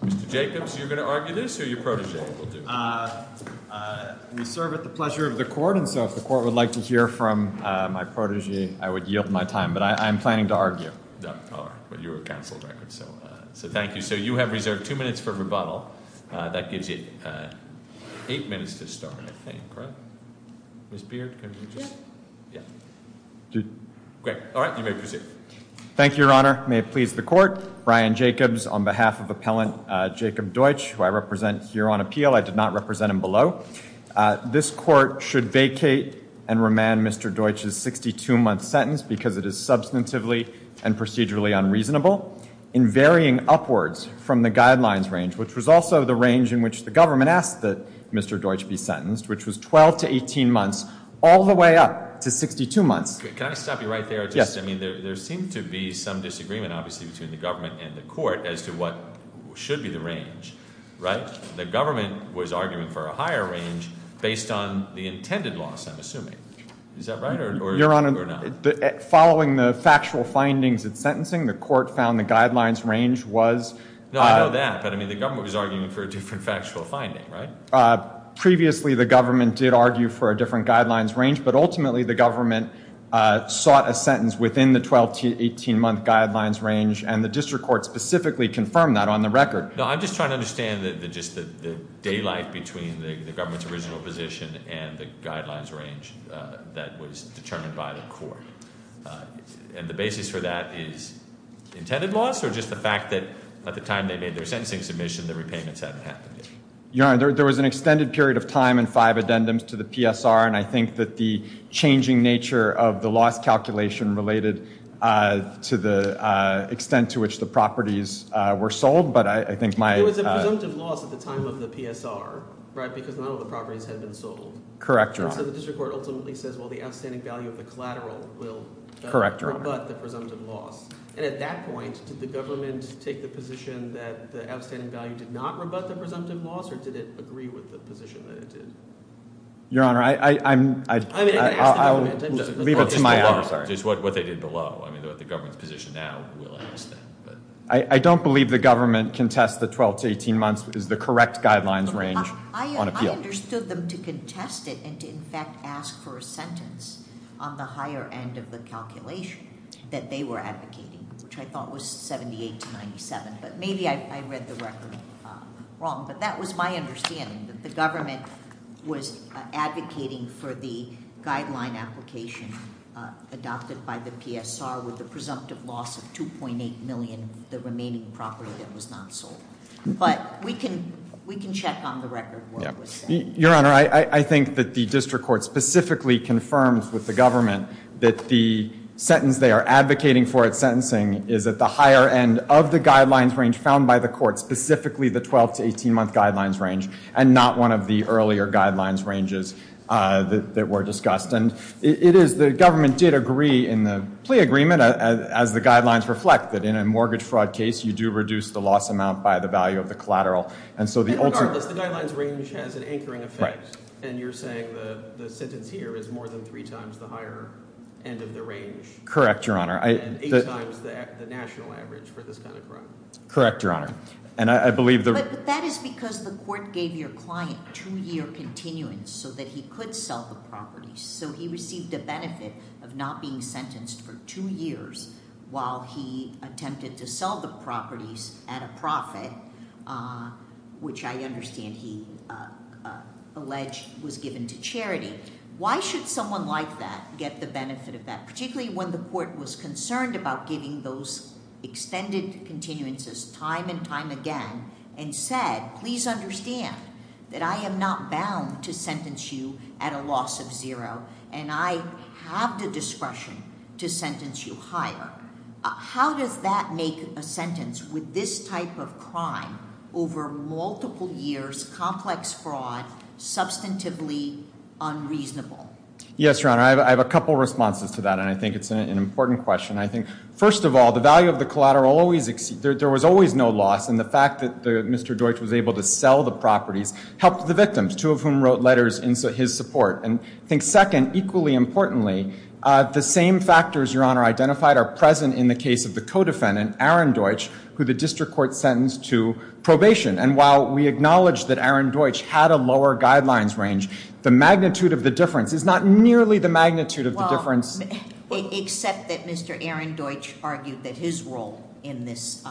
Mr. Jacobs, are you going to argue this or your protégé will do it? We serve at the pleasure of the court, and so if the court would like to hear from my protégé, I would yield my time. But I'm planning to argue. Oh, all right. Well, you're a counsel, so thank you. So you have reserved two minutes for rebuttal. That gives you eight minutes to start, I think, right? Ms. Beard, can you just? Yeah. Great. All right, you may proceed. Thank you, Your Honor. May it please the court, Brian Jacobs, on behalf of Appellant Jacob Deutsch, who I represent here on appeal. I did not represent him below. This court should vacate and remand Mr. Deutsch's 62-month sentence because it is substantively and procedurally unreasonable, in varying upwards from the guidelines range, which was also the range in which the government asked that Mr. Deutsch be sentenced, which was 12 to 18 months, all the way up to 62 months. Can I stop you right there? Yes. I mean, there seemed to be some disagreement, obviously, between the government and the court as to what should be the range, right? The government was arguing for a higher range based on the intended loss, I'm assuming. Is that right or not? Following the factual findings in sentencing, the court found the guidelines range was— No, I know that. But, I mean, the government was arguing for a different factual finding, right? Previously, the government did argue for a different guidelines range, but ultimately the government sought a sentence within the 12 to 18-month guidelines range, and the district court specifically confirmed that on the record. No, I'm just trying to understand the daylight between the government's original position and the guidelines range that was determined by the court. And the basis for that is intended loss, or just the fact that at the time they made their sentencing submission, the repayments hadn't happened yet? Your Honor, there was an extended period of time and five addendums to the PSR, and I think that the changing nature of the loss calculation related to the extent to which the properties were sold, but I think my— There was a presumptive loss at the time of the PSR, right, because none of the properties had been sold. Correct, Your Honor. So the district court ultimately says, well, the outstanding value of the collateral will rebut the presumptive loss. And at that point, did the government take the position that the outstanding value did not rebut the presumptive loss, or did it agree with the position that it did? Your Honor, I'm— I mean, ask the government. Leave it to my— Just what they did below. I mean, the government's position now will ask that. I don't believe the government contests that 12 to 18 months is the correct guidelines range on appeal. I understood them to contest it and to, in fact, ask for a sentence on the higher end of the calculation that they were advocating, which I thought was 78 to 97. But maybe I read the record wrong, but that was my understanding, that the government was advocating for the guideline application adopted by the PSR with the presumptive loss of $2.8 million, the remaining property that was not sold. But we can check on the record where it was set. Your Honor, I think that the district court specifically confirmed with the government that the sentence they are advocating for at sentencing is at the higher end of the guidelines range found by the court, specifically the 12 to 18 month guidelines range, and not one of the earlier guidelines ranges that were discussed. And it is, the government did agree in the plea agreement, as the guidelines reflect, that in a mortgage fraud case, you do reduce the loss amount by the value of the collateral. And so the ultimate... But regardless, the guidelines range has an anchoring effect. And you're saying the sentence here is more than three times the higher end of the range. Correct, Your Honor. And eight times the national average for this kind of crime. Correct, Your Honor. And I believe the... But that is because the court gave your client two-year continuance so that he could sell the properties. So he received the benefit of not being sentenced for two years while he attempted to sell the properties at a profit, which I understand he alleged was given to charity. Why should someone like that get the benefit of that? Particularly when the court was concerned about giving those extended continuances time and time again and said, please understand that I am not bound to sentence you at a loss of zero and I have the discretion to sentence you higher. How does that make a sentence with this type of crime over multiple years, complex fraud, substantively unreasonable? Yes, Your Honor. I have a couple of responses to that and I think it's an important question. I think first of all, the value of the collateral always... There was always no loss and the fact that Mr. Deutsch was able to sell the properties helped the victims, two of whom wrote letters in his support. And I think second, equally importantly, the same factors, Your Honor, identified are present in the case of the co-defendant, Aaron Deutsch, who the district court sentenced to probation. And while we acknowledge that Aaron Deutsch had a lower guidelines range, the magnitude of the difference is not nearly the magnitude of the difference... Except that Mr. Aaron Deutsch argued that his role in this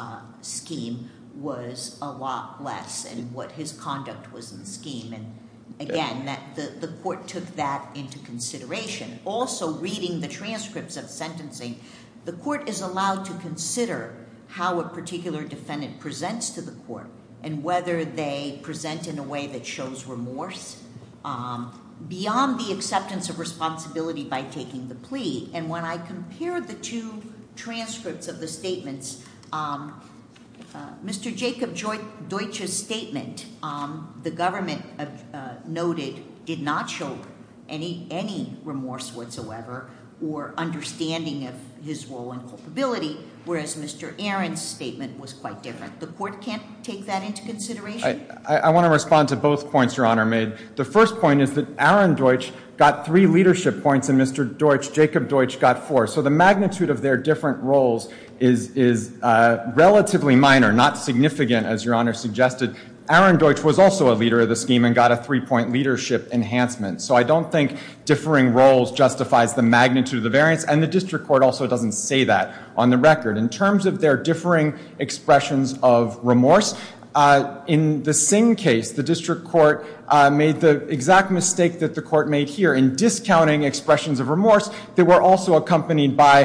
scheme was a lot less and what his conduct was in the scheme. And again, the court took that into consideration. Also, reading the transcripts of sentencing, the court is allowed to consider how a particular defendant presents to the court and whether they present in a way that shows remorse beyond the acceptance of responsibility by taking the plea. And when I compare the two transcripts of the statements, Mr. Jacob Deutsch's statement, the government noted, did not show any remorse whatsoever or understanding of his role and culpability, whereas Mr. Aaron's statement was quite different. The court can't take that into consideration? I want to respond to both points Your Honor made. The first point is that Aaron Deutsch got three leadership points and Mr. Jacob Deutsch got four. So the magnitude of their different roles is relatively minor, not significant, as Your Honor suggested. Aaron Deutsch was also a leader of the scheme and got a three-point leadership enhancement. So I don't think differing roles justifies the magnitude of the variance. And the district court also doesn't say that on the record. In terms of their differing expressions of remorse, in the Singh case, the district court made the exact mistake that the court made here in discounting expressions of remorse. They were also accompanied by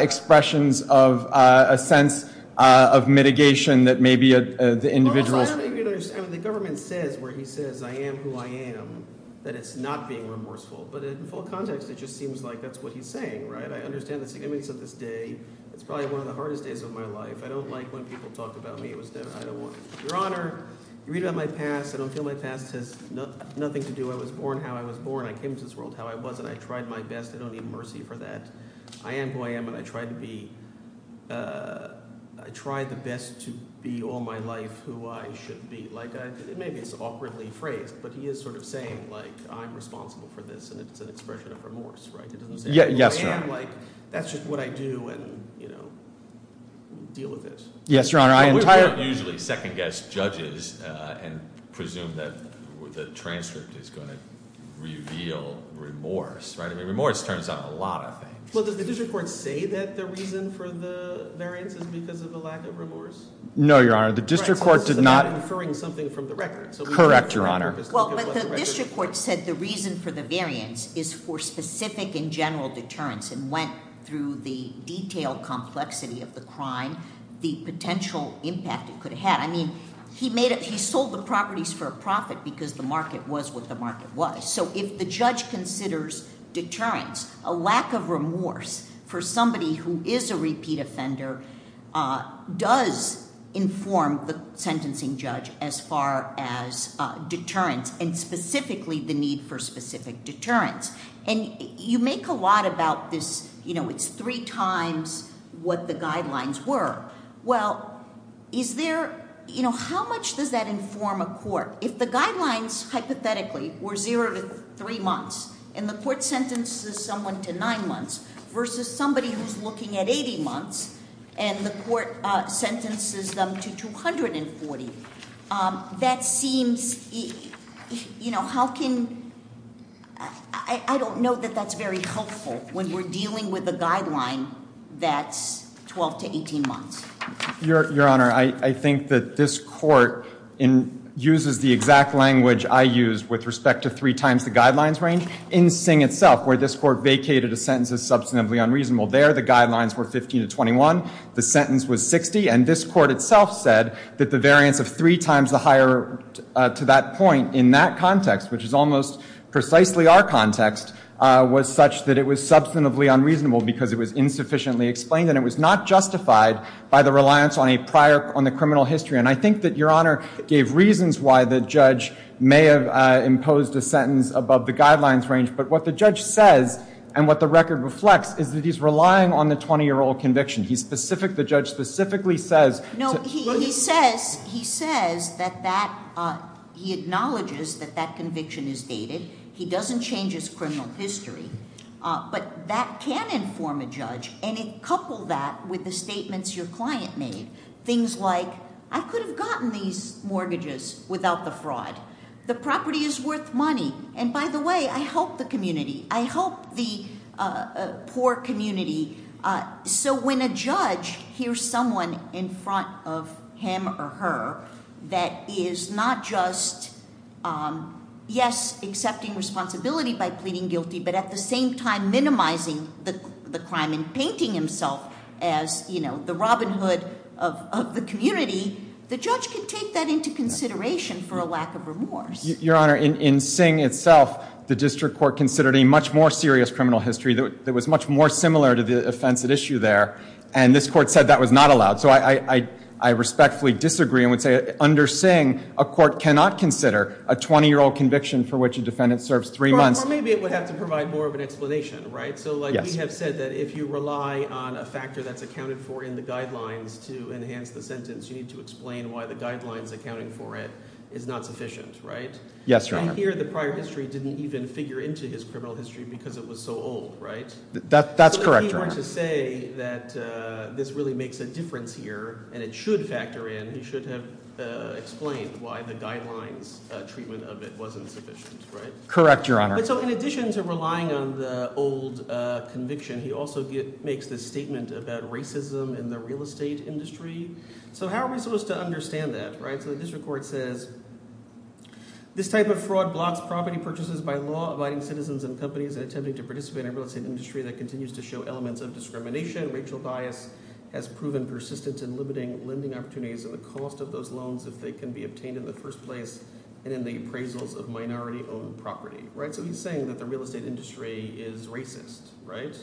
expressions of a sense of mitigation that maybe the individual's Well, I don't think you understand. The government says where he says, I am who I am, that it's not being remorseful. But in full context, it just seems like that's what he's saying, right? I understand the significance of this day. It's probably one of the hardest days of my life. I don't like when people talk about me. Your Honor, you read about my past. I don't feel my past has nothing to do. I was born how I was born. I came into this world how I was, and I tried my best. I don't need mercy for that. I am who I am, and I tried the best to be all my life who I should be. Maybe it's awkwardly phrased, but he is sort of saying, like, I'm responsible for this. And it's an expression of remorse, right? Yes, Your Honor. That's just what I do, and, you know, we'll deal with this. Yes, Your Honor. We don't usually second-guess judges and presume that the transcript is going to reveal remorse, right? I mean, remorse turns out a lot of things. Well, does the district court say that the reason for the variance is because of a lack of remorse? No, Your Honor, the district court did not. So it's not inferring something from the record. Correct, Your Honor. Well, but the district court said the reason for the variance is for specific and general deterrence and went through the detailed complexity of the crime, the potential impact it could have had. I mean, he sold the properties for a profit because the market was what the market was. So if the judge considers deterrence, a lack of remorse for somebody who is a repeat offender does inform the sentencing judge as far as deterrence and specifically the need for specific deterrence. And you make a lot about this, you know, it's three times what the guidelines were. Well, is there, you know, how much does that inform a court? If the guidelines, hypothetically, were zero to three months, and the court sentences someone to nine months, versus somebody who's looking at 80 months, and the court sentences them to 240, that seems, you know, how can, I don't know that that's very helpful when we're dealing with a guideline that's 12 to 18 months. Your Honor, I think that this court uses the exact language I use with respect to three times the guidelines range. In Singh itself, where this court vacated a sentence as substantively unreasonable, there the guidelines were 15 to 21, the sentence was 60, and this court itself said that the variance of three times the higher to that point in that context, which is almost precisely our context, was such that it was substantively unreasonable because it was insufficiently explained and it was not justified by the reliance on a prior, on the criminal history. And I think that Your Honor gave reasons why the judge may have imposed a sentence above the guidelines range, but what the judge says, and what the record reflects, is that he's relying on the 20-year-old conviction. He's specific, the judge specifically says- No, he says, he says that that, he acknowledges that that conviction is dated. He doesn't change his criminal history. But that can inform a judge, and it coupled that with the statements your client made. Things like, I could have gotten these mortgages without the fraud. The property is worth money. And by the way, I help the community. I help the poor community. So when a judge hears someone in front of him or her that is not just, yes, accepting responsibility by pleading guilty, but at the same time minimizing the crime and painting himself as the Robin Hood of the community, the judge can take that into consideration for a lack of remorse. Your Honor, in Singh itself, the district court considered a much more serious criminal history that was much more similar to the offense at issue there. And this court said that was not allowed. So I respectfully disagree and would say under Singh, a court cannot consider a 20-year-old conviction for which a defendant serves three months. Or maybe it would have to provide more of an explanation, right? So we have said that if you rely on a factor that's accounted for in the guidelines to enhance the sentence, you need to explain why the guidelines accounting for it is not sufficient, right? Yes, Your Honor. Right here, the prior history didn't even figure into his criminal history because it was so old, right? That's correct, Your Honor. So if he were to say that this really makes a difference here, and it should factor in, he should have explained why the guidelines treatment of it wasn't sufficient, right? Correct, Your Honor. But so in addition to relying on the old conviction, he also makes this statement about racism in the real estate industry. So how are we supposed to understand that, right? So the district court says, This type of fraud blocks property purchases by law-abiding citizens and companies in attempting to participate in a real estate industry that continues to show elements of discrimination. Racial bias has proven persistent in limiting lending opportunities and the cost of those loans if they can be obtained in the first place and in the appraisals of minority-owned property. So he's saying that the real estate industry is racist, right?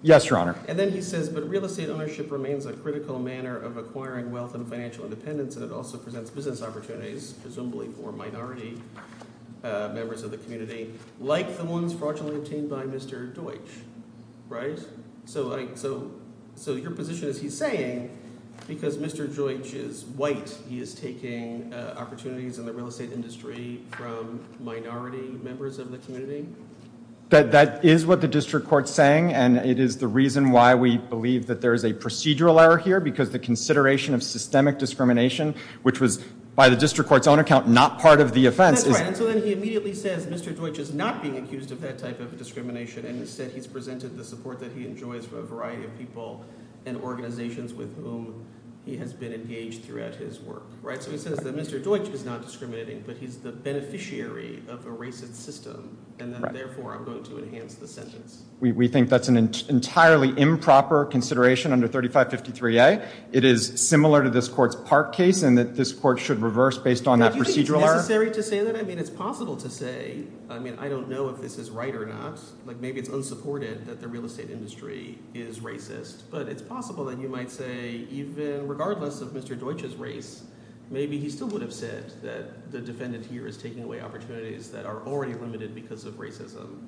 Yes, Your Honor. And then he says, But real estate ownership remains a critical manner of acquiring wealth and financial independence and it also presents business opportunities, presumably for minority members of the community, like the ones fraudulently obtained by Mr. Deutsch, right? So your position is he's saying, because Mr. Deutsch is white, he is taking opportunities in the real estate industry from minority members of the community? That is what the district court is saying, and it is the reason why we believe that there is a procedural error here because the consideration of systemic discrimination, which was, by the district court's own account, not part of the offense. That's right. And so then he immediately says Mr. Deutsch is not being accused of that type of discrimination and instead he's presented the support that he enjoys from a variety of people and organizations with whom he has been engaged throughout his work, right? So he says that Mr. Deutsch is not discriminating but he's the beneficiary of a racist system and that therefore I'm going to enhance the sentence. We think that's an entirely improper consideration under 3553A. It is similar to this court's Park case and that this court should reverse based on that procedural error. Do you think it's necessary to say that? I mean, it's possible to say. I mean, I don't know if this is right or not. Like, maybe it's unsupported that the real estate industry is racist, but it's possible that you might say even regardless of Mr. Deutsch's race, maybe he still would have said that the defendant here is taking away opportunities that are already limited because of racism.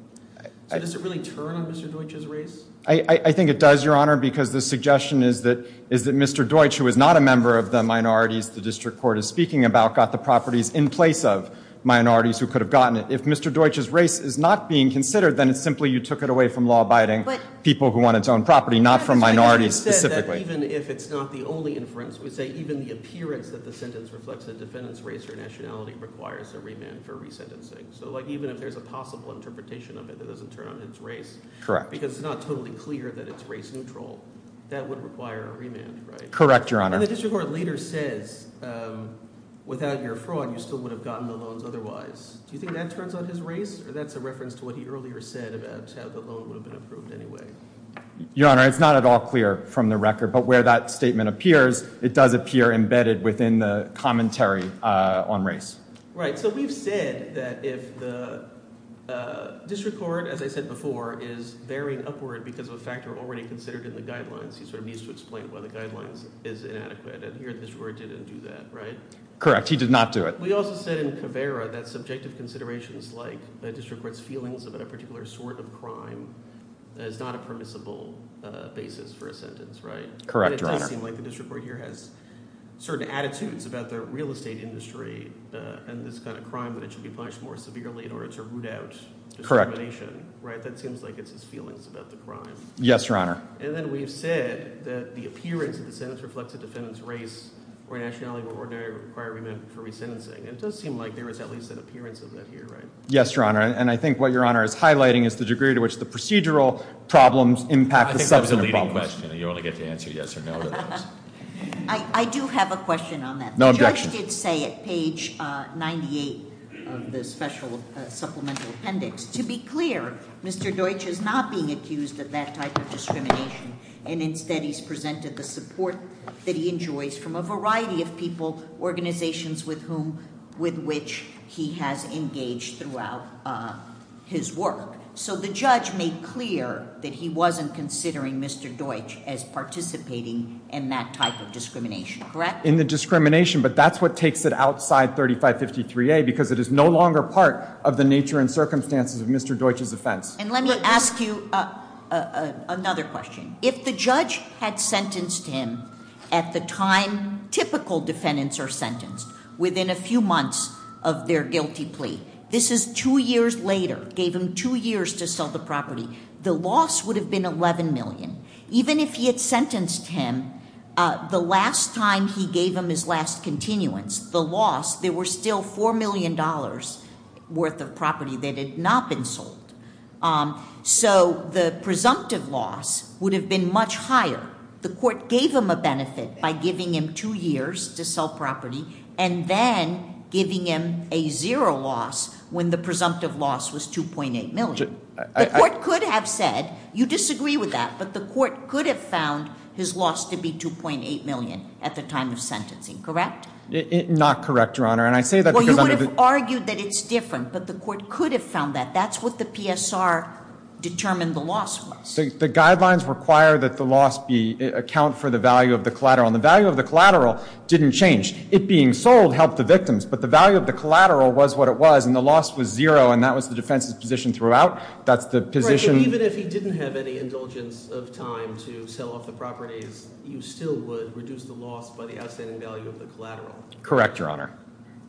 So does it really turn on Mr. Deutsch's race? I think it does, Your Honor, because the suggestion is that Mr. Deutsch, who is not a member of the minorities the district court is speaking about, got the properties in place of minorities who could have gotten it. If Mr. Deutsch's race is not being considered, then it's simply you took it away from law-abiding people who want its own property, not from minorities specifically. Even if it's not the only inference, we say even the appearance that the sentence reflects a defendant's race or nationality requires a remand for resentencing. So, like, even if there's a possible interpretation of it that doesn't turn on his race. Correct. Because it's not totally clear that it's race-neutral. That would require a remand, right? Correct, Your Honor. And the district court later says, without your fraud, you still would have gotten the loans otherwise. Do you think that turns on his race? Or that's a reference to what he earlier said about how the loan would have been approved anyway? Your Honor, it's not at all clear from the record. But where that statement appears, it does appear embedded within the commentary on race. Right. So we've said that if the district court, as I said before, is veering upward because of a factor already considered in the guidelines, he sort of needs to explain why the guidelines is inadequate. And here the district court didn't do that, right? Correct. He did not do it. We also said in Caveira that subjective considerations like the district court's feelings about a particular sort of crime is not a permissible basis for a sentence, right? Correct, Your Honor. And it does seem like the district court here has certain attitudes about the real estate industry and this kind of crime that it should be punished more severely in order to root out discrimination. That seems like it's his feelings about the crime. Yes, Your Honor. And then we've said that the appearance of the sentence reflects a defendant's race or nationality or ordinary requirement for resentencing. It does seem like there is at least an appearance of that here, right? Yes, Your Honor. And I think what Your Honor is highlighting is the degree to which the procedural problems impact the substantive problems. I think that's a leading question and you only get to answer yes or no to those. I do have a question on that. No objections. The judge did say at page 98 of the special supplemental appendix, to be clear, Mr. Deutsch is not being accused of that type of discrimination. And instead he's presented the support that he enjoys from a variety of people, organizations with which he has engaged throughout his work. So the judge made clear that he wasn't considering Mr. Deutsch as participating in that type of discrimination. Correct? In the discrimination, but that's what takes it outside 3553A because it is no longer part of the nature and circumstances of Mr. Deutsch's offense. And let me ask you another question. If the judge had sentenced him at the time typical defendants are sentenced, within a few months of their guilty plea, this is two years later, gave him two years to sell the property, the loss would have been $11 million. Even if he had sentenced him, the last time he gave him his last continuance, the loss, there were still $4 million worth of property that had not been sold. So the presumptive loss would have been much higher. The court gave him a benefit by giving him two years to sell property, and then giving him a zero loss when the presumptive loss was $2.8 million. The court could have said, you disagree with that, but the court could have found his loss to be $2.8 million at the time of sentencing. Correct? Not correct, Your Honor. And I say that because- Well, you would have argued that it's different, but the court could have found that. That's what the PSR determined the loss was. The guidelines require that the loss account for the value of the collateral. And the value of the collateral didn't change. It being sold helped the victims, but the value of the collateral was what it was, and the loss was zero, and that was the defense's position throughout. That's the position- Even if he didn't have any indulgence of time to sell off the properties, you still would reduce the loss by the outstanding value of the collateral. Correct, Your Honor.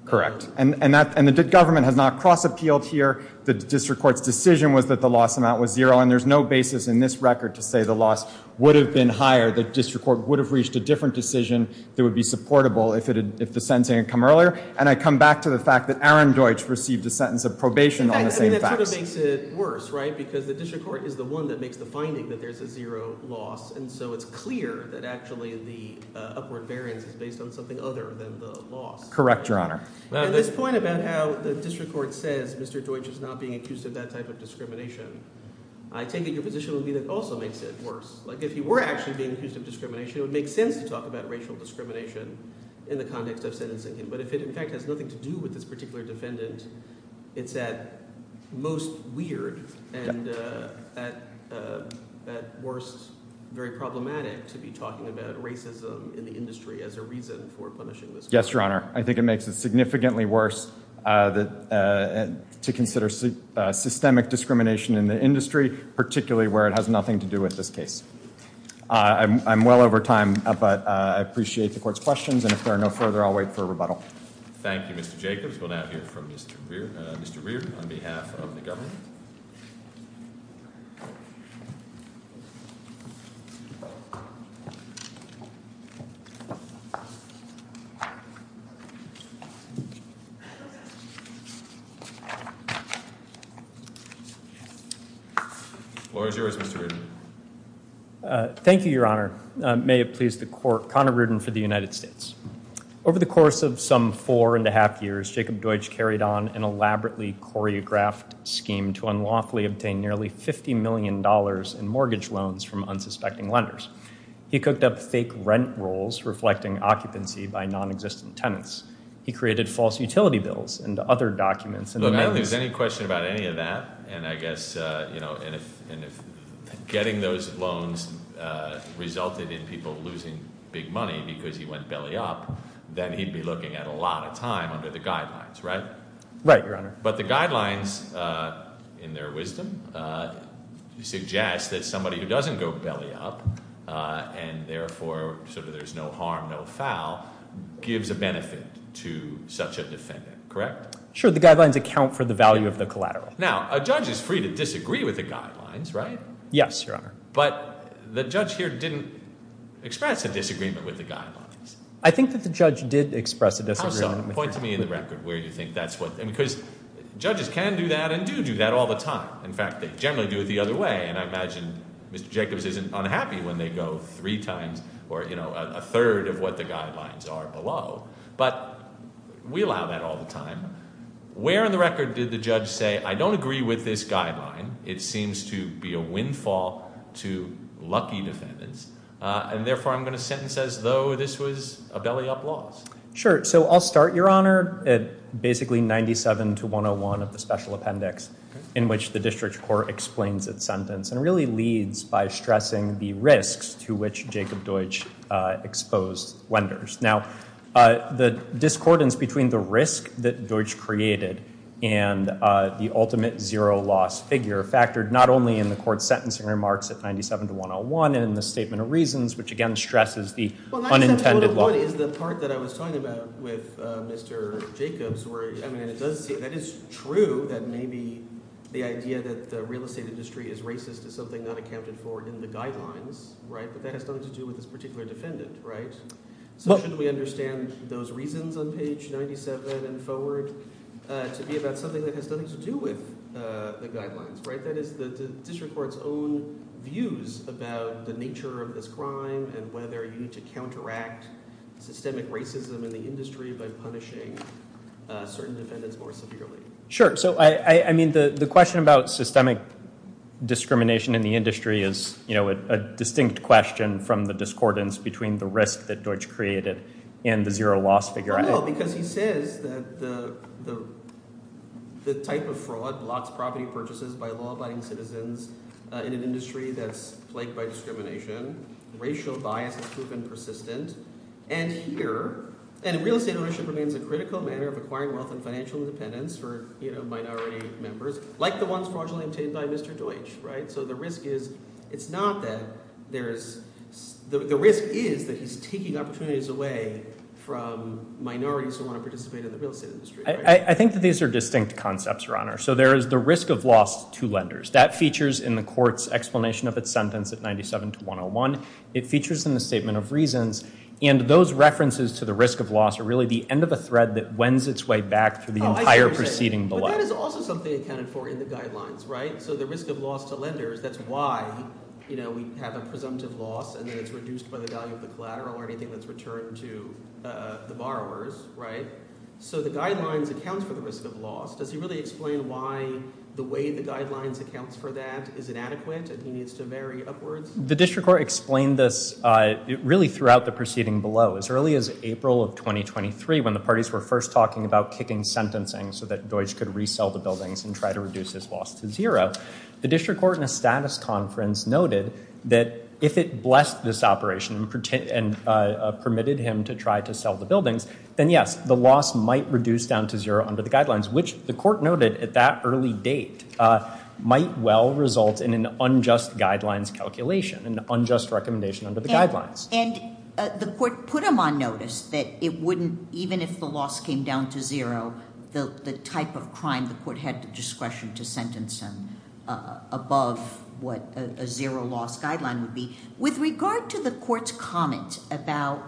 Correct. And the government has not cross-appealed here. The district court's decision was that the loss amount was zero, and there's no basis in this record to say the loss would have been higher. The district court would have reached a different decision that would be supportable if the sentencing had come earlier. And I come back to the fact that Aaron Deutsch received a sentence of probation on the same facts. That sort of makes it worse, right? Because the district court is the one that makes the finding that there's a zero loss. And so it's clear that actually the upward variance is based on something other than the loss. Correct, Your Honor. At this point about how the district court says Mr. Deutsch is not being accused of that type of discrimination, I take it your position would be that also makes it worse. Like if he were actually being accused of discrimination, it would make sense to talk about racial discrimination in the context of sentencing him. But if it in fact has nothing to do with this particular defendant, it's at most weird and at worst very problematic to be talking about racism in the industry as a reason for punishing this person. Yes, Your Honor. I think it makes it significantly worse to consider systemic discrimination in the industry, particularly where it has nothing to do with this case. I'm well over time, but I appreciate the Court's questions. And if there are no further, I'll wait for a rebuttal. Thank you, Mr. Jacobs. We'll now hear from Mr. Reardon on behalf of the government. The floor is yours, Mr. Reardon. Thank you, Your Honor. May it please the Court, Connor Reardon for the United States. Over the course of some four and a half years, Jacob Deutsch carried on an elaborately choreographed scheme to unlawfully obtain nearly $50 million in mortgage loans from unsuspecting lenders. He cooked up fake rent rolls reflecting occupancy by non-existent tenants. He created false utility bills and other documents. Look, I don't think there's any question about any of that. And I guess, you know, getting those loans resulted in people losing big money because he went belly-up, then he'd be looking at a lot of time under the guidelines, right? Right, Your Honor. But the guidelines, in their wisdom, suggest that somebody who doesn't go belly-up and therefore sort of there's no harm, no foul, gives a benefit to such a defendant, correct? Sure, the guidelines account for the value of the collateral. Now, a judge is free to disagree with the guidelines, right? Yes, Your Honor. But the judge here didn't express a disagreement with the guidelines. I think that the judge did express a disagreement with the guidelines. How so? Point to me in the record where you think that's what… Because judges can do that and do do that all the time. In fact, they generally do it the other way. And I imagine Mr. Jacobs isn't unhappy when they go three times or, you know, a third of what the guidelines are below. But we allow that all the time. Where in the record did the judge say, I don't agree with this guideline. It seems to be a windfall to lucky defendants. And therefore, I'm going to sentence as though this was a belly-up loss. Sure, so I'll start, Your Honor, at basically 97 to 101 of the special appendix, in which the district court explains its sentence and really leads by stressing the risks to which Jacob Deutsch exposed Wenders. Now, the discordance between the risk that Deutsch created and the ultimate zero-loss figure factored not only in the court's sentencing remarks at 97 to 101 and in the statement of reasons, which again stresses the unintended loss. Well, that's the part that I was talking about with Mr. Jacobs. That is true that maybe the idea that the real estate industry is racist is something not accounted for in the guidelines, right? But that has nothing to do with this particular defendant, right? So shouldn't we understand those reasons on page 97 and forward? To be about something that has nothing to do with the guidelines, right? That is the district court's own views about the nature of this crime and whether you need to counteract systemic racism in the industry by punishing certain defendants more severely. Sure, so I mean the question about systemic discrimination in the industry is a distinct question from the discordance between the risk that Deutsch created and the zero-loss figure. Well, because he says that the type of fraud blocks property purchases by law-abiding citizens in an industry that's plagued by discrimination, racial bias has proven persistent, and here, and real estate ownership remains a critical manner of acquiring wealth and financial independence for minority members, like the ones fraudulently obtained by Mr. Deutsch, right? So the risk is, it's not that there's, the risk is that he's taking opportunities away from minorities who want to participate in the real estate industry. I think that these are distinct concepts, Your Honor. So there is the risk of loss to lenders. That features in the court's explanation of its sentence at 97 to 101. It features in the statement of reasons, and those references to the risk of loss are really the end of a thread that wends its way back through the entire proceeding below. But that is also something accounted for in the guidelines, right? So the risk of loss to lenders, that's why, you know, we have a presumptive loss and then it's reduced by the value of the collateral or anything that's returned to the borrowers, right? So the guidelines account for the risk of loss. Does he really explain why the way the guidelines account for that is inadequate and he needs to vary upwards? The district court explained this really throughout the proceeding below. As early as April of 2023, when the parties were first talking about kicking sentencing so that Deutsch could resell the buildings and try to reduce his loss to zero, the district court in a status conference noted that if it blessed this operation and permitted him to try to sell the buildings, then, yes, the loss might reduce down to zero under the guidelines, which the court noted at that early date might well result in an unjust guidelines calculation, an unjust recommendation under the guidelines. And the court put him on notice that it wouldn't, even if the loss came down to zero, the type of crime the court had the discretion to sentence him above what a zero-loss guideline would be. With regard to the court's comment about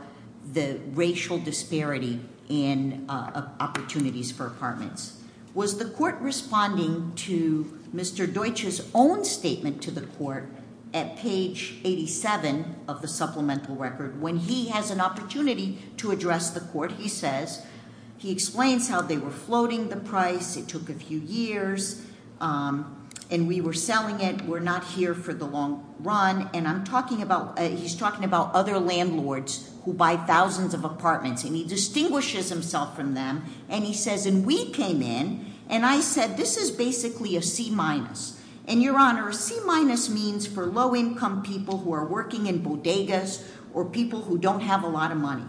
the racial disparity in opportunities for apartments, was the court responding to Mr. Deutsch's own statement to the court at page 87 of the supplemental record? When he has an opportunity to address the court, he says, he explains how they were floating the price, it took a few years, and we were selling it, we're not here for the long run, and I'm talking about, he's talking about other landlords who buy thousands of apartments, and he distinguishes himself from them, and he says, and we came in, and I said, this is basically a C-minus. And, Your Honor, a C-minus means for low-income people who are working in bodegas or people who don't have a lot of money.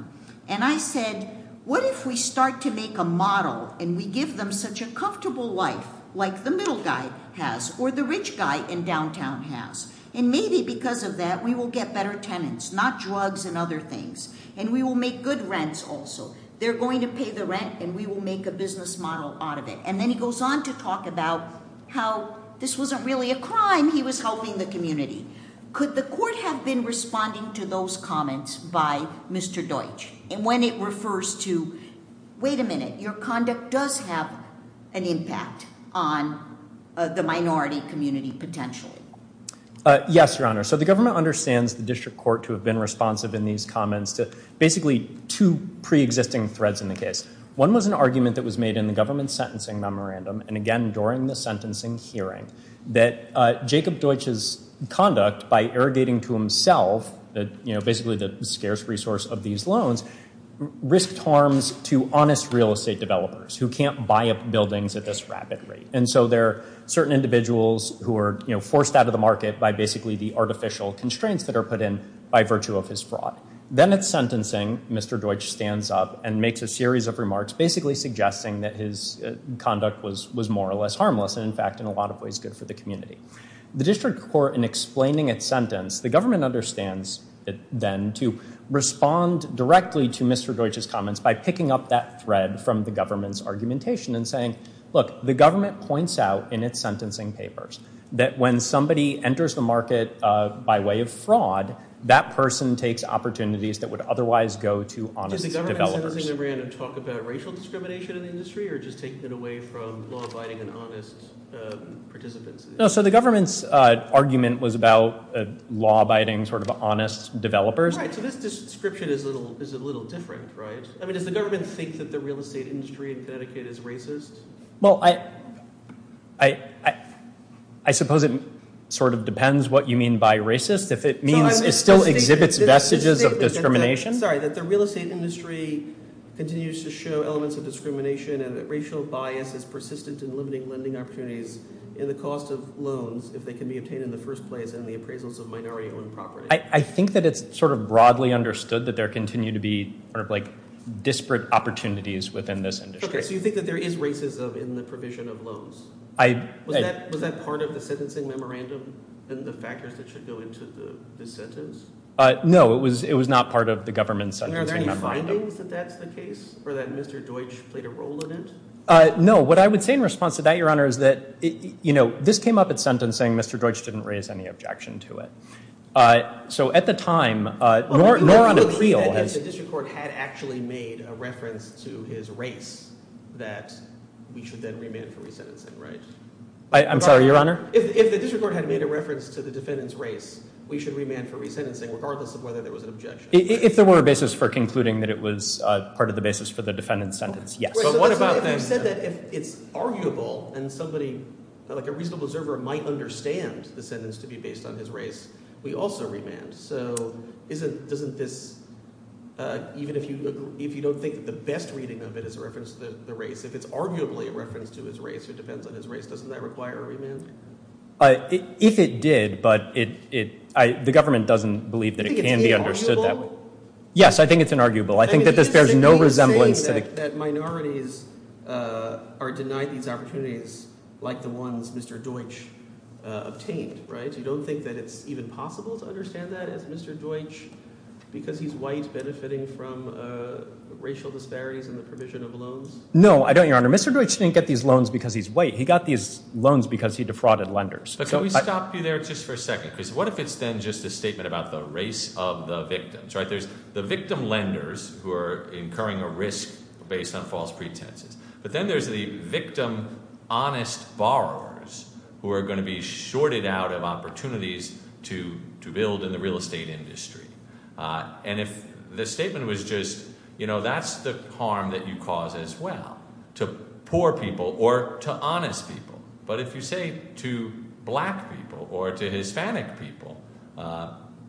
And I said, what if we start to make a model and we give them such a comfortable life like the middle guy has, or the rich guy in downtown has. And maybe because of that, we will get better tenants, not drugs and other things. And we will make good rents also. They're going to pay the rent, and we will make a business model out of it. And then he goes on to talk about how this wasn't really a crime, he was helping the community. Could the court have been responding to those comments by Mr. Deutsch when it refers to, wait a minute, your conduct does have an impact on the minority community potentially? Yes, Your Honor. So the government understands the district court to have been responsive in these comments to basically two pre-existing threads in the case. One was an argument that was made in the government sentencing memorandum, and again during the sentencing hearing, that Jacob Deutsch's conduct by irrigating to himself, basically the scarce resource of these loans, risked harms to honest real estate developers who can't buy up buildings at this rapid rate. And so there are certain individuals who are forced out of the market by basically the artificial constraints that are put in by virtue of his fraud. Then at sentencing, Mr. Deutsch stands up and makes a series of remarks basically suggesting that his conduct was more or less harmless and in fact in a lot of ways good for the community. The district court in explaining its sentence, the government understands then to respond directly to Mr. Deutsch's comments by picking up that thread from the government's argumentation and saying, look, the government points out in its sentencing papers that when somebody enters the market by way of fraud, that person takes opportunities that would otherwise go to honest developers. No, so the government's argument was about law-abiding sort of honest developers. Well, I suppose it sort of depends what you mean by racist. If it still exhibits vestiges of discrimination? Sorry, that the real estate industry continues to show elements of discrimination and that racial bias is persistent in limiting lending opportunities in the cost of loans if they can be obtained in the first place and the appraisals of minority-owned property. I think that it's sort of broadly understood that there continue to be disparate opportunities within this industry. So you think that there is racism in the provision of loans? Was that part of the sentencing memorandum and the factors that should go into the sentence? No, it was not part of the government's sentencing memorandum. Are there any findings that that's the case, or that Mr. Deutsch played a role in it? No, what I would say in response to that, Your Honor, is that this came up at sentencing, Mr. Deutsch didn't raise any objection to it. So at the time, nor on appeal... If the district court had actually made a reference to his race, that we should then remand for resentencing, right? I'm sorry, Your Honor? If the district court had made a reference to the defendant's race, we should remand for resentencing regardless of whether there was an objection. If there were a basis for concluding that it was part of the basis for the defendant's sentence, yes. You said that if it's arguable and a reasonable observer might understand the sentence to be based on his race, we also remand. So even if you don't think the best reading of it is a reference to the race, if it's arguably a reference to his race, it depends on his race, doesn't that require a remand? If it did, but the government doesn't believe that it can be understood that way. Yes, I think it's arguable. You're saying that minorities are denied these opportunities like the ones Mr. Deutsch obtained, right? You don't think that it's even possible to understand that as Mr. Deutsch, because he's white, benefiting from racial disparities in the provision of loans? No, I don't, Your Honor. Mr. Deutsch didn't get these loans because he's white. He got these loans because he defrauded lenders. But can we stop you there just for a second? What if it's then just a statement about the race of the victims? There's the victim lenders who are incurring a risk based on false pretenses. But then there's the victim honest borrowers who are going to be shorted out of opportunities to build in the real estate industry. And if the statement was just that's the harm that you cause as well to poor people or to honest people. But if you say to black people or to Hispanic people,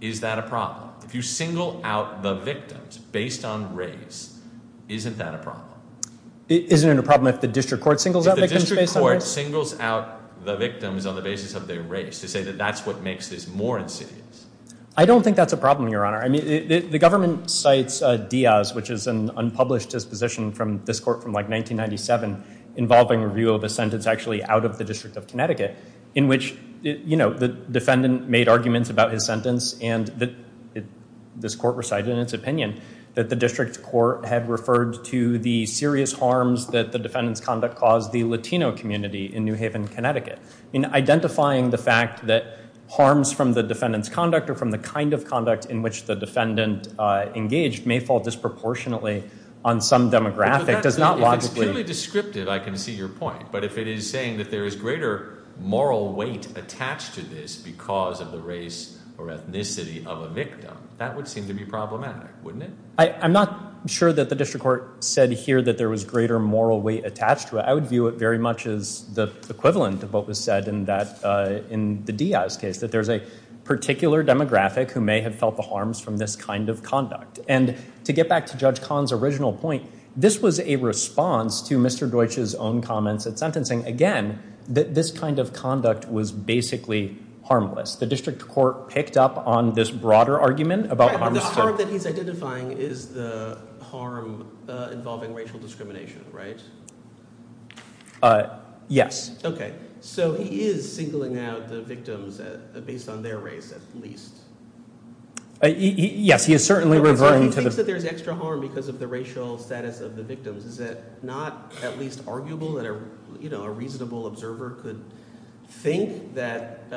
is that a problem? If you single out the victims based on race, isn't that a problem? Isn't it a problem if the district court singles out victims based on race? If the district court singles out the victims on the basis of their race to say that that's what makes this more insidious? I don't think that's a problem, Your Honor. The government cites Diaz, which is an unpublished disposition from this court from 1997 involving review of a sentence actually out of the District of Connecticut in which the defendant made arguments about his sentence and this court recited in its opinion that the district court had referred to the serious harms that the defendant's conduct caused the Latino community in New Haven, Connecticut. Identifying the fact that harms from the defendant's conduct or from the kind of conduct in which the defendant engaged may fall disproportionately on some demographic does not logically... If it's purely descriptive, I can see your point, but if it is saying that there is greater moral weight attached to this because of the race or ethnicity of a victim, that would seem to be problematic, wouldn't it? I'm not sure that the district court said here that there was greater moral weight attached to it. I would view it very much as the equivalent of what was said in the Diaz case, that there's a particular demographic who may have felt the harms from this kind of conduct. And to get back to Judge Kahn's original point, this was a response to Mr. Deutsch's own comments at sentencing, again, that this kind of conduct was basically harmless. The district court picked up on this broader argument... The harm that he's identifying is the harm involving racial discrimination, right? Yes. Okay, so he is singling out the victims based on their race, at least. Yes, he is certainly referring to the... So he thinks that there's extra harm because of the racial status of the victims. Is it not at least arguable that a reasonable observer could think that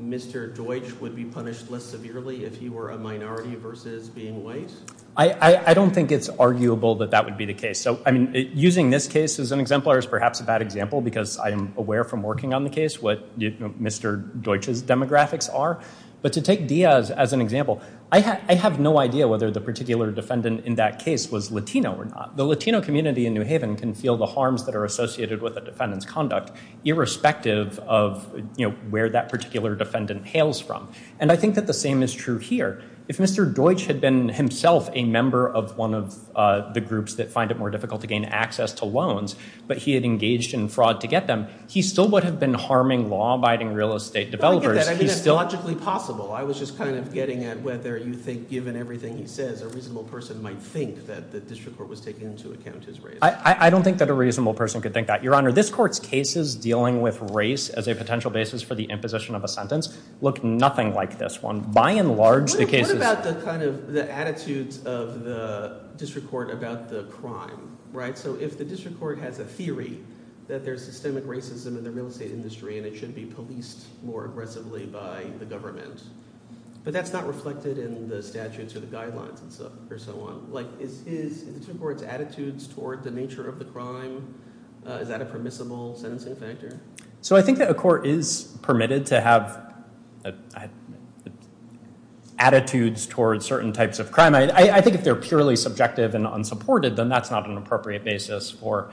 Mr. Deutsch would be punished less severely if he were a minority versus being white? I don't think it's arguable that that would be the case. Using this case as an exemplar is perhaps a bad example because I am aware from working on the case what Mr. Deutsch's demographics are. But to take Diaz as an example, I have no idea whether the particular defendant in that case was Latino or not. The Latino community in New Haven can feel the harms that are associated with a defendant's conduct irrespective of where that particular defendant hails from. And I think that the same is true here. If Mr. Deutsch had been himself a member of one of the groups that find it more difficult to gain access to loans but he had engaged in fraud to get them, he still would have been harming law-abiding real estate developers. I get that. I mean, it's logically possible. I was just kind of getting at whether you think, given everything he says, a reasonable person might think that the district court was taking into account his race. I don't think that a reasonable person could think that. Your Honor, this court's cases dealing with race as a potential basis for the imposition of a sentence look nothing like this one. What about the attitudes of the district court about the crime? So if the district court has a theory that there's systemic racism in the real estate industry and it should be policed more aggressively by the government, but that's not reflected in the statutes or the guidelines. Is the district court's attitudes toward the nature of the crime, is that a permissible sentencing factor? So I think that a court is permitted to have attitudes toward certain types of crime. I think if they're purely subjective and unsupported, then that's not an appropriate basis for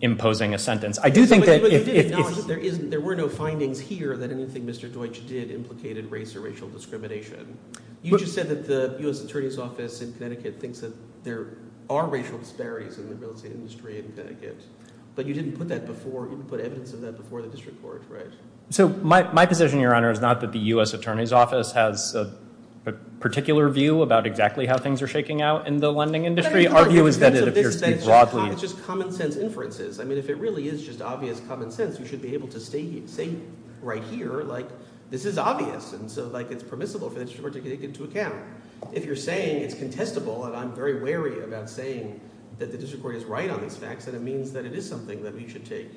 imposing a sentence. But you did acknowledge that there were no findings here that anything Mr. Deutsch did implicated race or racial discrimination. You just said that the U.S. Attorney's Office in Connecticut thinks that there are racial disparities in the real estate industry in Connecticut. But you didn't put evidence of that before the district court, right? So my position, Your Honor, is not that the U.S. Attorney's Office has a particular view about exactly how things are shaking out in the lending industry. Our view is that it appears to be broadly... It's just common sense inferences. I mean, if it really is just obvious common sense, you should be able to say right here, this is obvious, and so it's permissible for the district court to take it into account. If you're saying it's contestable, and I'm very wary about saying that the district court is right on these facts, then it means that it is something that we should take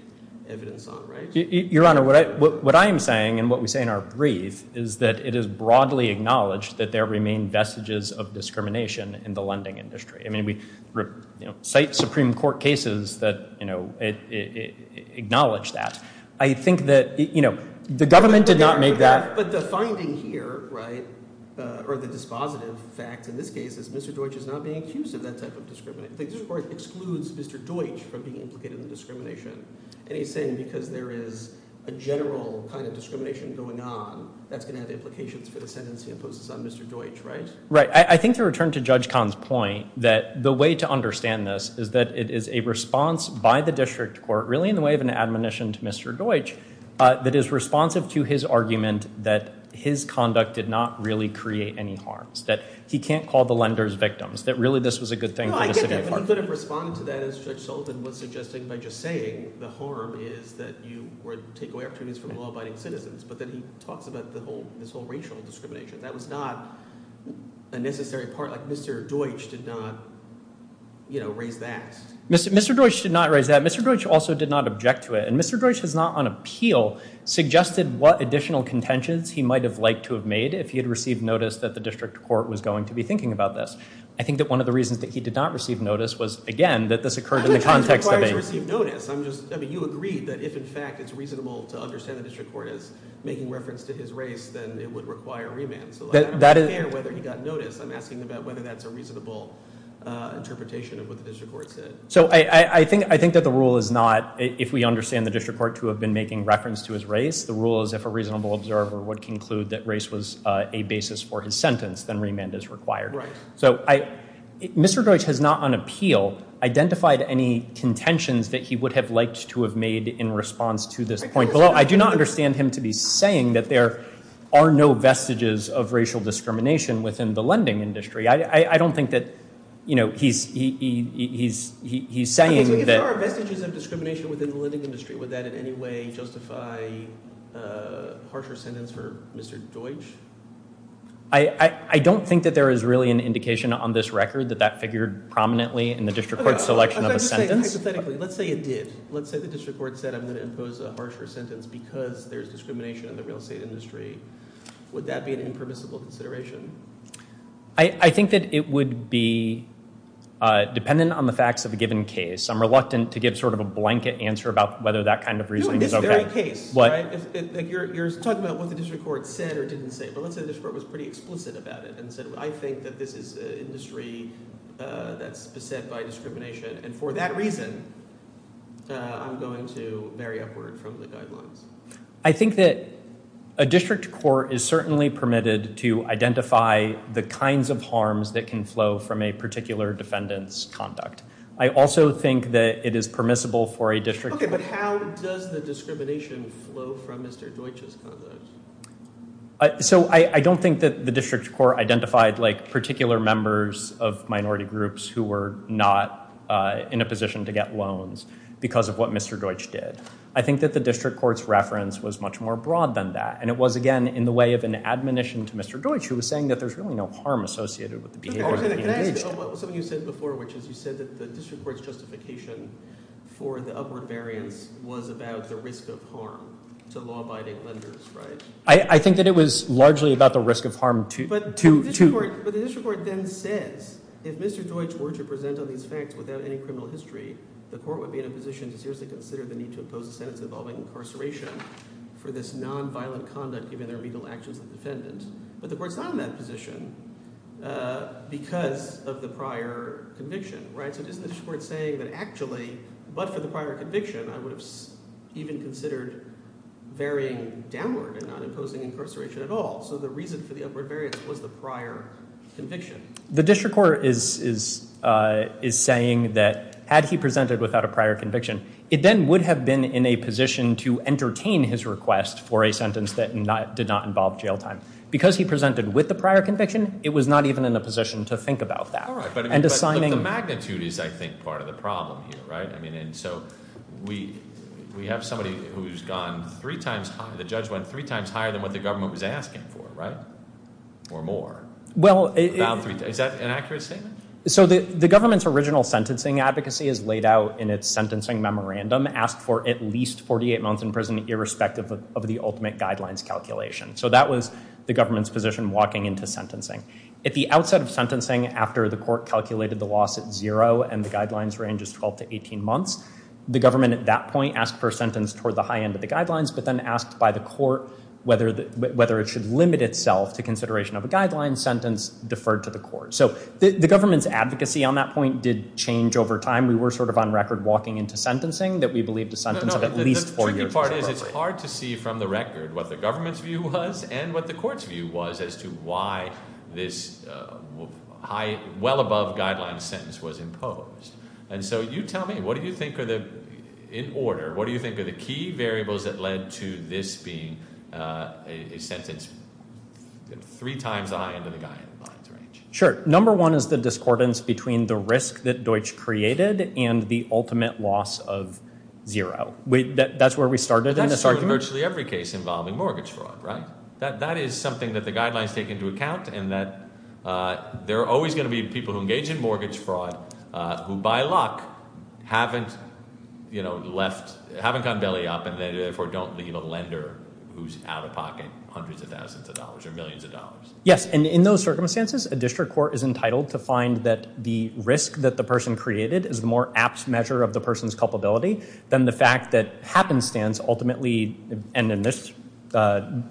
evidence on, right? Your Honor, what I am saying, and what we say in our brief, is that it is broadly acknowledged that there remain vestiges of discrimination in the lending industry. I mean, we cite Supreme Court cases that acknowledge that. I think that the government did not make that... But the finding here, or the dispositive fact in this case, is Mr. Deutsch is not being accused of that type of discrimination. The district court excludes Mr. Deutsch from being implicated in the discrimination. And he's saying because there is a general kind of discrimination going on, that's going to have implications for the sentences he imposes on Mr. Deutsch, right? Right. I think to return to Judge Kahn's point, that the way to understand this is that it is a response by the district court, really in the way of an admonition to Mr. Deutsch, that is responsive to his argument that his conduct did not really create any harms, that he can't call the lenders victims, that really this was a good thing for the city of Harkin. He could have responded to that as Judge Soltan was suggesting by just saying the harm is that you take away opportunities from law-abiding citizens, but then he talks about this whole racial discrimination. That was not a necessary part. Mr. Deutsch did not raise that. Mr. Deutsch did not raise that. Mr. Deutsch also did not object to it. And Mr. Deutsch has not on appeal suggested what additional contentions he might have liked to have made if he had received notice that the district court was going to be thinking about this. I think that one of the reasons that he did not receive notice was again that this occurred in the context of a... You agreed that if in fact it's reasonable to understand the district court as making reference to his race, then it would require remand. I'm asking about whether that's a reasonable interpretation of what the district court said. I think that the rule is not if we understand the district court to have been making reference to his race, the rule is if a reasonable observer would conclude that race was a basis for his sentence, then remand is required. Mr. Deutsch has not on appeal identified any contentions that he would have liked to have made in response to this point. I do not understand him to be saying that there are no vestiges of racial discrimination within the lending industry. I don't think that he's saying that... If there are vestiges of discrimination within the lending industry, would that in any way justify a harsher sentence for Mr. Deutsch? I don't think that there is really an indication on this record that that figured prominently in the district court's selection of a sentence. Let's say it did. Let's say the district court said I'm going to impose a harsher sentence because there's discrimination in the real estate industry. Would that be an impermissible consideration? I think that it would be dependent on the facts of a given case. I'm reluctant to give sort of a blanket answer about whether that kind of reasoning is okay. You're talking about what the district court said or didn't say, but let's say the district court was pretty explicit about it and said I think that this is an industry that's beset by discrimination and for that reason I'm going to vary upward from the guidelines. I think that a district court is certainly permitted to identify the kinds of harms that can flow from a particular defendant's conduct. I also think that it is permissible for a district court... Okay, but how does the discrimination flow from Mr. Deutsch's conduct? So, I don't think that the district court identified particular members of minority groups who were not in a position to get loans because of what Mr. Deutsch did. I think that the district court's reference was much more broad than that and it was, again, in the way of an admonition to Mr. Deutsch who was saying that there's really no harm associated with the behavior of the engaged... Can I ask you something you said before which is you said that the district court's justification for the upward variance was about the risk of harm to law-abiding lenders, right? I think that it was largely about the risk of harm to... But the district court then says if Mr. Deutsch were to present on these facts without any criminal history, the court would be in a position to seriously consider the need to impose a sentence involving incarceration for this non-violent conduct given their legal actions of the defendant. But the court's not in that position because of the prior conviction, right? So isn't the district court saying that actually, but for the prior conviction, I would have even considered varying downward and not imposing incarceration at all? So the reason for the upward variance was the prior conviction. The district court is saying that had he presented without a prior conviction, it then would have been in a position to entertain his request for a sentence that did not involve jail time. Because he presented with a prior conviction, it was not even in a position to think about that. The magnitude is, I think, part of the problem here, right? We have somebody who's gone three times higher, the judge went three times higher than what the government was asking for, right? Or more. Is that an accurate statement? The government's original sentencing advocacy is laid out in its sentencing memorandum, asked for at least 48 months in prison irrespective of the ultimate guidelines calculation. So that was the government's position walking into sentencing. At the outset of sentencing, after the court calculated the loss at zero and the guidelines range is 12 to 18 months, the government at that point asked for a sentence toward the high end of the guidelines, but then asked by the court whether it should limit itself to consideration of a guideline sentence deferred to the court. So the government's advocacy on that point did change over time. We were sort of on record walking into sentencing that we believed a sentence of at least four years was appropriate. The tricky part is it's hard to see from the record what the government's view was and what the court's view was as to why this well above guideline sentence was imposed. And so you tell me, what do you think are the in order, what do you think are the key variables that led to this being a sentence three times the high end of the guidelines range? Sure. Number one is the discordance between the risk that which created and the ultimate loss of zero. That's where we started in this argument. That's true in virtually every case involving mortgage fraud, right? That is something that the guidelines take into account and that there are always going to be people who engage in mortgage fraud who by luck haven't left, haven't gotten belly up and therefore don't leave a lender who's out of pocket hundreds of thousands of dollars or millions of dollars. Yes, and in those circumstances a district court is entitled to find that the risk that the person created is the more apt measure of the person's culpability than the fact that happenstance ultimately and in this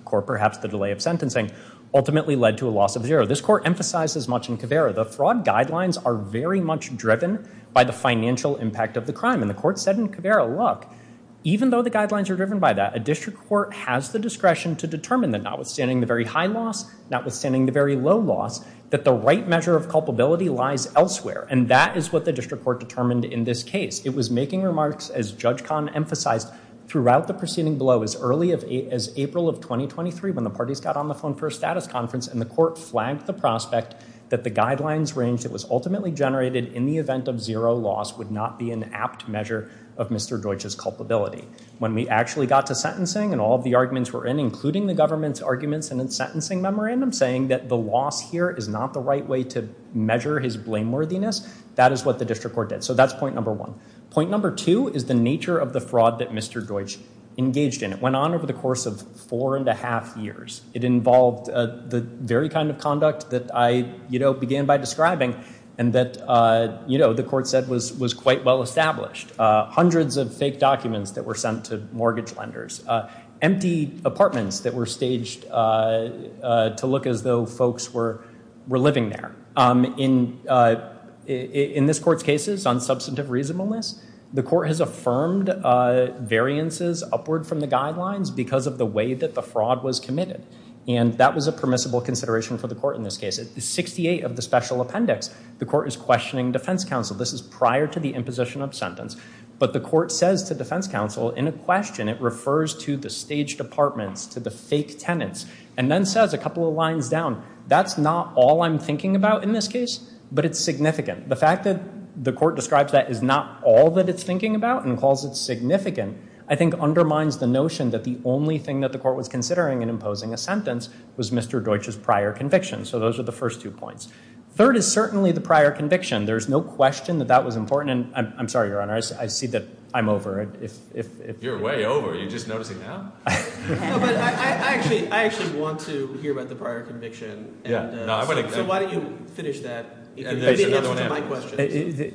court perhaps the delay of sentencing ultimately led to a loss of zero. This court emphasizes much in Caveira. The fraud guidelines are very much driven by the financial impact of the crime and the court said in Caveira look, even though the guidelines are driven by that, a district court has the discretion to determine that notwithstanding the very high loss notwithstanding the very low loss that the right measure of culpability lies elsewhere and that is what the district court determined in this case. It was making remarks as Judge Kahn emphasized throughout the proceeding below as early as April of 2023 when the parties got on the phone for a status conference and the court flagged the prospect that the guidelines range that was ultimately generated in the event of zero loss would not be an apt measure of Mr. Deutsch's culpability. When we actually got to sentencing and all of the guidelines were in, including the government's arguments in the sentencing memorandum saying that the loss here is not the right way to measure his blameworthiness, that is what the district court did. So that's point number one. Point number two is the nature of the fraud that Mr. Deutsch engaged in. It went on over the course of four and a half years. It involved the very kind of conduct that I began by describing and that the court said was quite well established. Hundreds of fake apartments that were staged to look as though folks were living there. In this court's cases on substantive reasonableness, the court has affirmed variances upward from the guidelines because of the way that the fraud was committed. And that was a permissible consideration for the court in this case. At 68 of the special appendix, the court is questioning defense counsel. This is prior to the imposition of sentence. But the court says to defense counsel in a question, it refers to the staged apartments, to the fake tenants. And then says a couple of lines down, that's not all I'm thinking about in this case, but it's significant. The fact that the court describes that as not all that it's thinking about and calls it significant, I think undermines the notion that the only thing that the court was considering in imposing a sentence was Mr. Deutsch's prior conviction. So those are the first two points. Third is certainly the prior conviction. There's no question that that was important. I'm sorry, Your Honor. I see that I'm over. You're way over. You're just noticing now? I actually want to hear about the prior conviction. So why don't you finish that?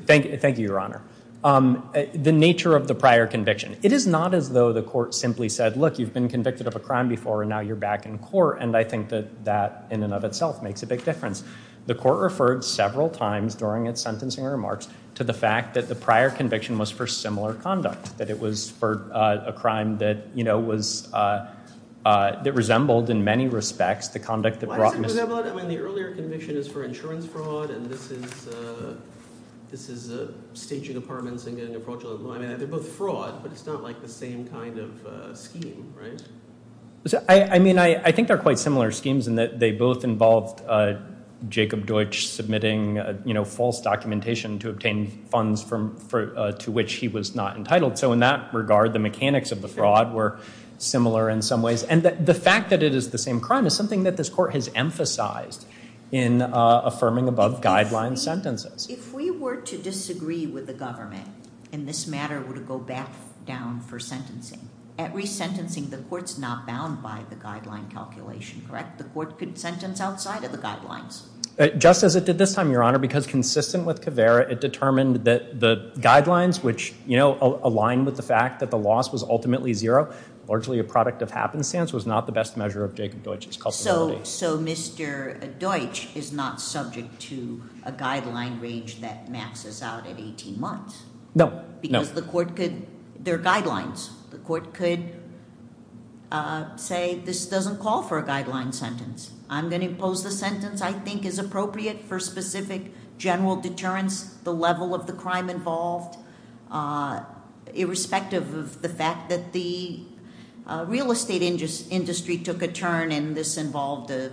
Thank you, Your Honor. The nature of the prior conviction. It is not as though the court simply said, look, you've been convicted of a crime before and now you're back in court. And I think that in and of itself makes a big difference. The court referred several times during its sentencing remarks to the fact that the prior conviction was for similar conduct. That it was for a crime that, you know, was that resembled in many respects the conduct that brought Mr. Why is it resembled? I mean, the earlier conviction is for insurance fraud and this is staging apartments and getting a fraudulent law. I mean, they're both fraud, but it's not like the same kind of scheme, right? I mean, I think they're quite similar schemes in that they both involved Jacob Deutsch submitting, you know, false documentation to obtain funds to which he was not entitled. So in that regard, the mechanics of the fraud were similar in some ways. And the fact that it is the same crime is something that this court has emphasized in affirming above guideline sentences. If we were to disagree with the government in this matter, would it go back down for sentencing? At resentencing, the court's not bound by the guideline calculation, correct? The court could sentence outside of the guidelines? Just as it did this time, Your Honor, because consistent with Caveira, it determined that the guidelines, which aligned with the fact that the loss was ultimately zero largely a product of happenstance, was not the best measure of Jacob Deutsch's culpability. So Mr. Deutsch is not subject to a guideline range that maxes out at 18 months? No. Because the court could, there are guidelines, the court could say this doesn't call for a guideline sentence. I'm going to impose the sentence I think is appropriate for specific general deterrence the level of the crime involved irrespective of the fact that the real estate industry took a turn and this involved a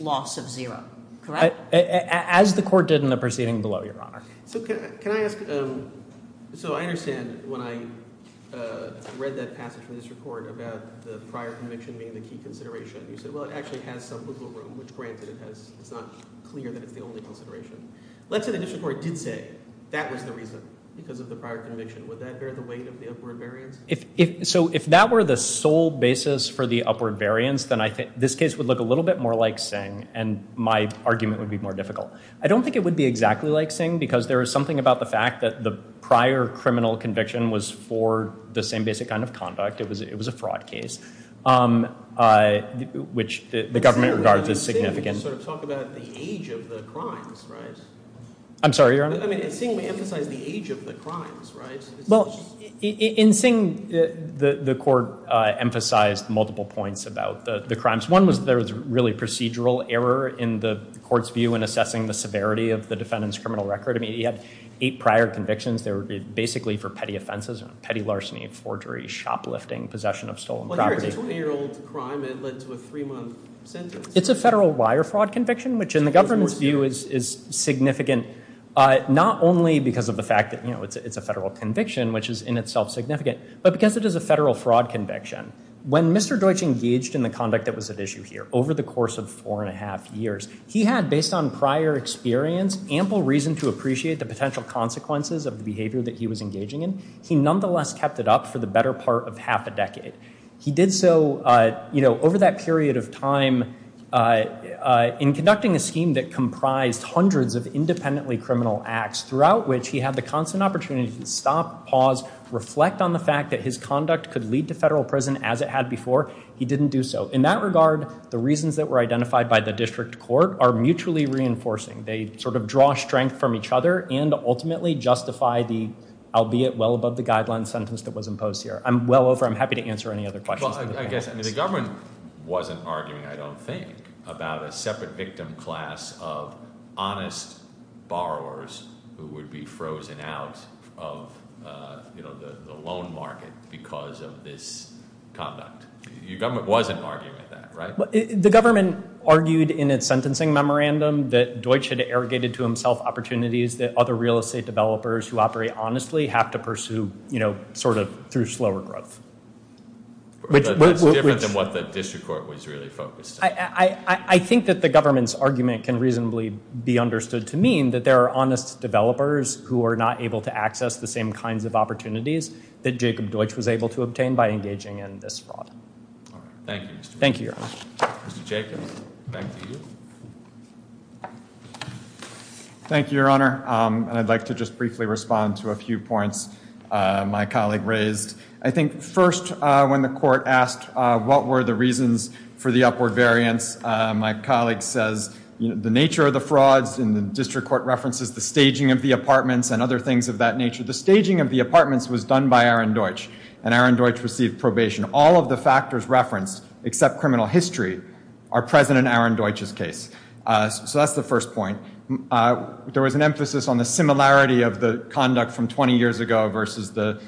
loss of zero, correct? As the court did in the proceeding below, Your Honor. So can I ask so I understand when I read that passage from this report about the prior conviction being the key consideration, you said well it actually has some wiggle room, which granted it's not clear that it's the only consideration. Let's say the district court did say that was the reason because of the prior conviction. Would that bear the weight of the upward variance? So if that were the sole basis for the upward variance, then I think this case would look a little bit more like Singh and my argument would be more difficult. I don't think it would be exactly like Singh because there is something about the fact that the prior criminal conviction was for the same basic kind of conduct. It was a fraud case which the government regards as significant. In Singh, the court emphasized multiple points about the crimes. One was there was really procedural error in the court's view in assessing the severity of the defendant's criminal record. He had eight prior convictions. They were basically for petty offenses, petty larceny, forgery, shoplifting, possession of stolen property. It's a federal wire fraud conviction, which in the government's view is significant not only because of the fact that it's a federal conviction which is in itself significant, but because it is a federal fraud conviction. When Mr. Deutsch engaged in the conduct that was at issue here over the course of four and a half years, he had, based on prior experience, ample reason to appreciate the potential consequences of the behavior that he was engaging in. He nonetheless kept it up for the better part of half a decade. He did so over that period of time in conducting a scheme that comprised hundreds of independently criminal acts, throughout which he had the constant opportunity to stop, pause, reflect on the fact that his conduct could lead to federal prison as it had before. He didn't do so. In that regard, the reasons that were identified by the district court are mutually reinforcing. They sort of draw strength from each other and ultimately justify the, albeit well above the guidelines, sentence that was imposed here. I'm well over. I'm happy to answer any other questions. The government wasn't arguing, I don't think, about a separate victim class of honest borrowers who would be frozen out of the loan market because of this conduct. Your government wasn't arguing that, right? The government argued in its sentencing memorandum that Deutsch had arrogated to himself opportunities that other real estate developers who operate honestly have to pursue, you know, sort of through slower growth. That's different than what the district court was really focused on. I think that the government's argument can reasonably be understood to mean that there are honest developers who are not able to access the same kinds of opportunities that Jacob Deutsch was able to obtain by engaging in this fraud. Thank you. Thank you, Your Honor. Mr. Jacobs, back to you. Thank you, Your Honor. I'd like to just briefly respond to a few points my colleague raised. I think first, when the court asked what were the reasons for the upward variance, my colleague says the nature of the frauds District Court references the staging of the apartments and other things of that nature. The staging of the apartments was done by Aaron Deutsch and Aaron Deutsch received probation. All of the factors referenced except criminal history are present in Aaron Deutsch's case. So that's the first point. There was an emphasis on the similarity of the conduct from 20 years ago versus the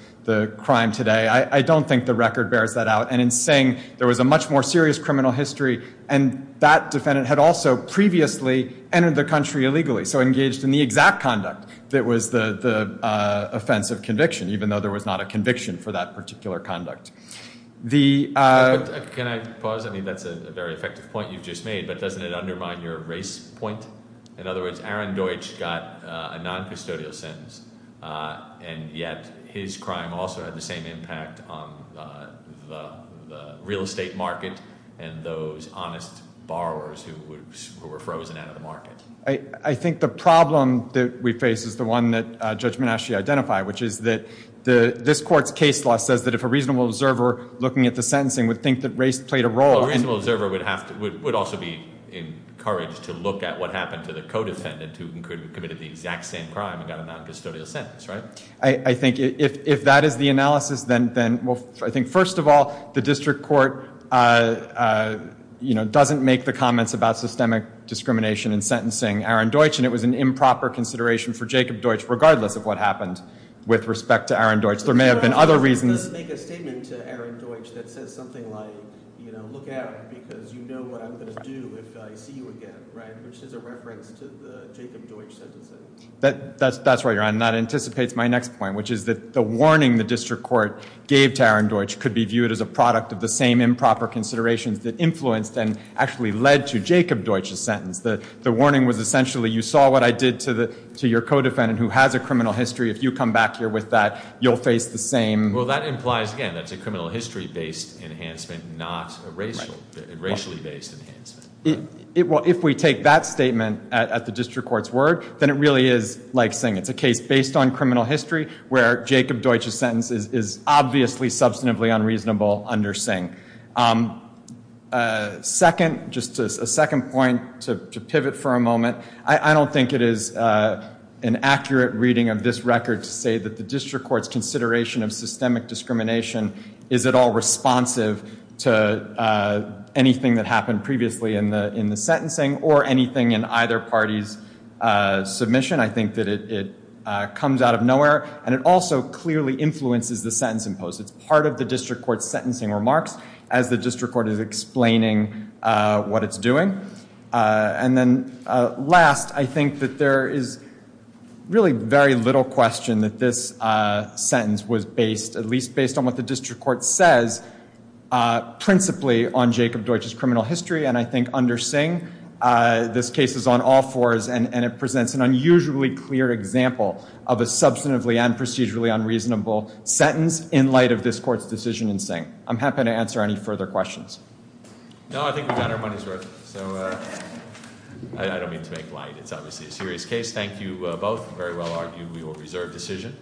crime today. I don't think the record bears that out. And in saying there was a much more serious criminal history and that defendant had also previously entered the country illegally. So engaged in the exact conduct that was the offense of conviction, even though there was not a conviction for that particular conduct. Can I pause? I mean, that's a very effective point you just made, but doesn't it undermine your race point? In other words, Aaron Deutsch got a noncustodial sentence and yet his crime also had the same impact on the real estate market and those honest borrowers who were frozen out of the market. I think the problem that we face is the one that Judge Menasche identified, which is that this court's case law says that if a reasonable observer looking at the sentencing would think that race played a role A reasonable observer would also be encouraged to look at what happened to the co-defendant who committed the exact same crime and got a noncustodial sentence, right? I think if that is the analysis, then first of all, the district court doesn't make the comments about systemic discrimination in sentencing Aaron Deutsch and it was an improper consideration for Jacob Deutsch regardless of what happened with respect to Aaron Deutsch. There may have been other reasons Let's make a statement to Aaron Deutsch that says something like look at it because you know what I'm going to do if I see you again which is a reference to the Jacob Deutsch sentencing That's right, your honor, and that anticipates my next point which is that the warning the district court gave to Aaron Deutsch could be viewed as a product of the same improper considerations that influenced and actually led to Jacob Deutsch's sentence. The warning was essentially you saw what I did to your co-defendant who has a criminal history. If you come back here with that, you'll face the same Well, that implies, again, that's a criminal history-based enhancement, not a racially-based enhancement Well, if we take that statement at the district court's word, then it really is like Singh. It's a case based on criminal history where Jacob Deutsch's sentence is obviously substantively unreasonable under Singh Second, just a second point to pivot for a moment, I don't think it is an accurate reading of this record to say that the district court's consideration of systemic discrimination is at all responsive to anything that happened previously in the sentencing or anything in either party's submission. I think that it comes out of nowhere and it also clearly influences the sentence in post. It's part of the district court's sentencing remarks as the district court is explaining what it's doing. And then last, I think that there is really very little question that this sentence was based, at least based on what the district court says principally on Jacob Deutsch's This case is on all fours and it presents an unusually clear example of a substantively and procedurally unreasonable sentence in light of this court's decision in Singh. I'm happy to answer any further questions. No, I think we've done our money's worth. I don't mean to make light. It's obviously a serious case. Thank you both. Very well argued. We will reserve decision.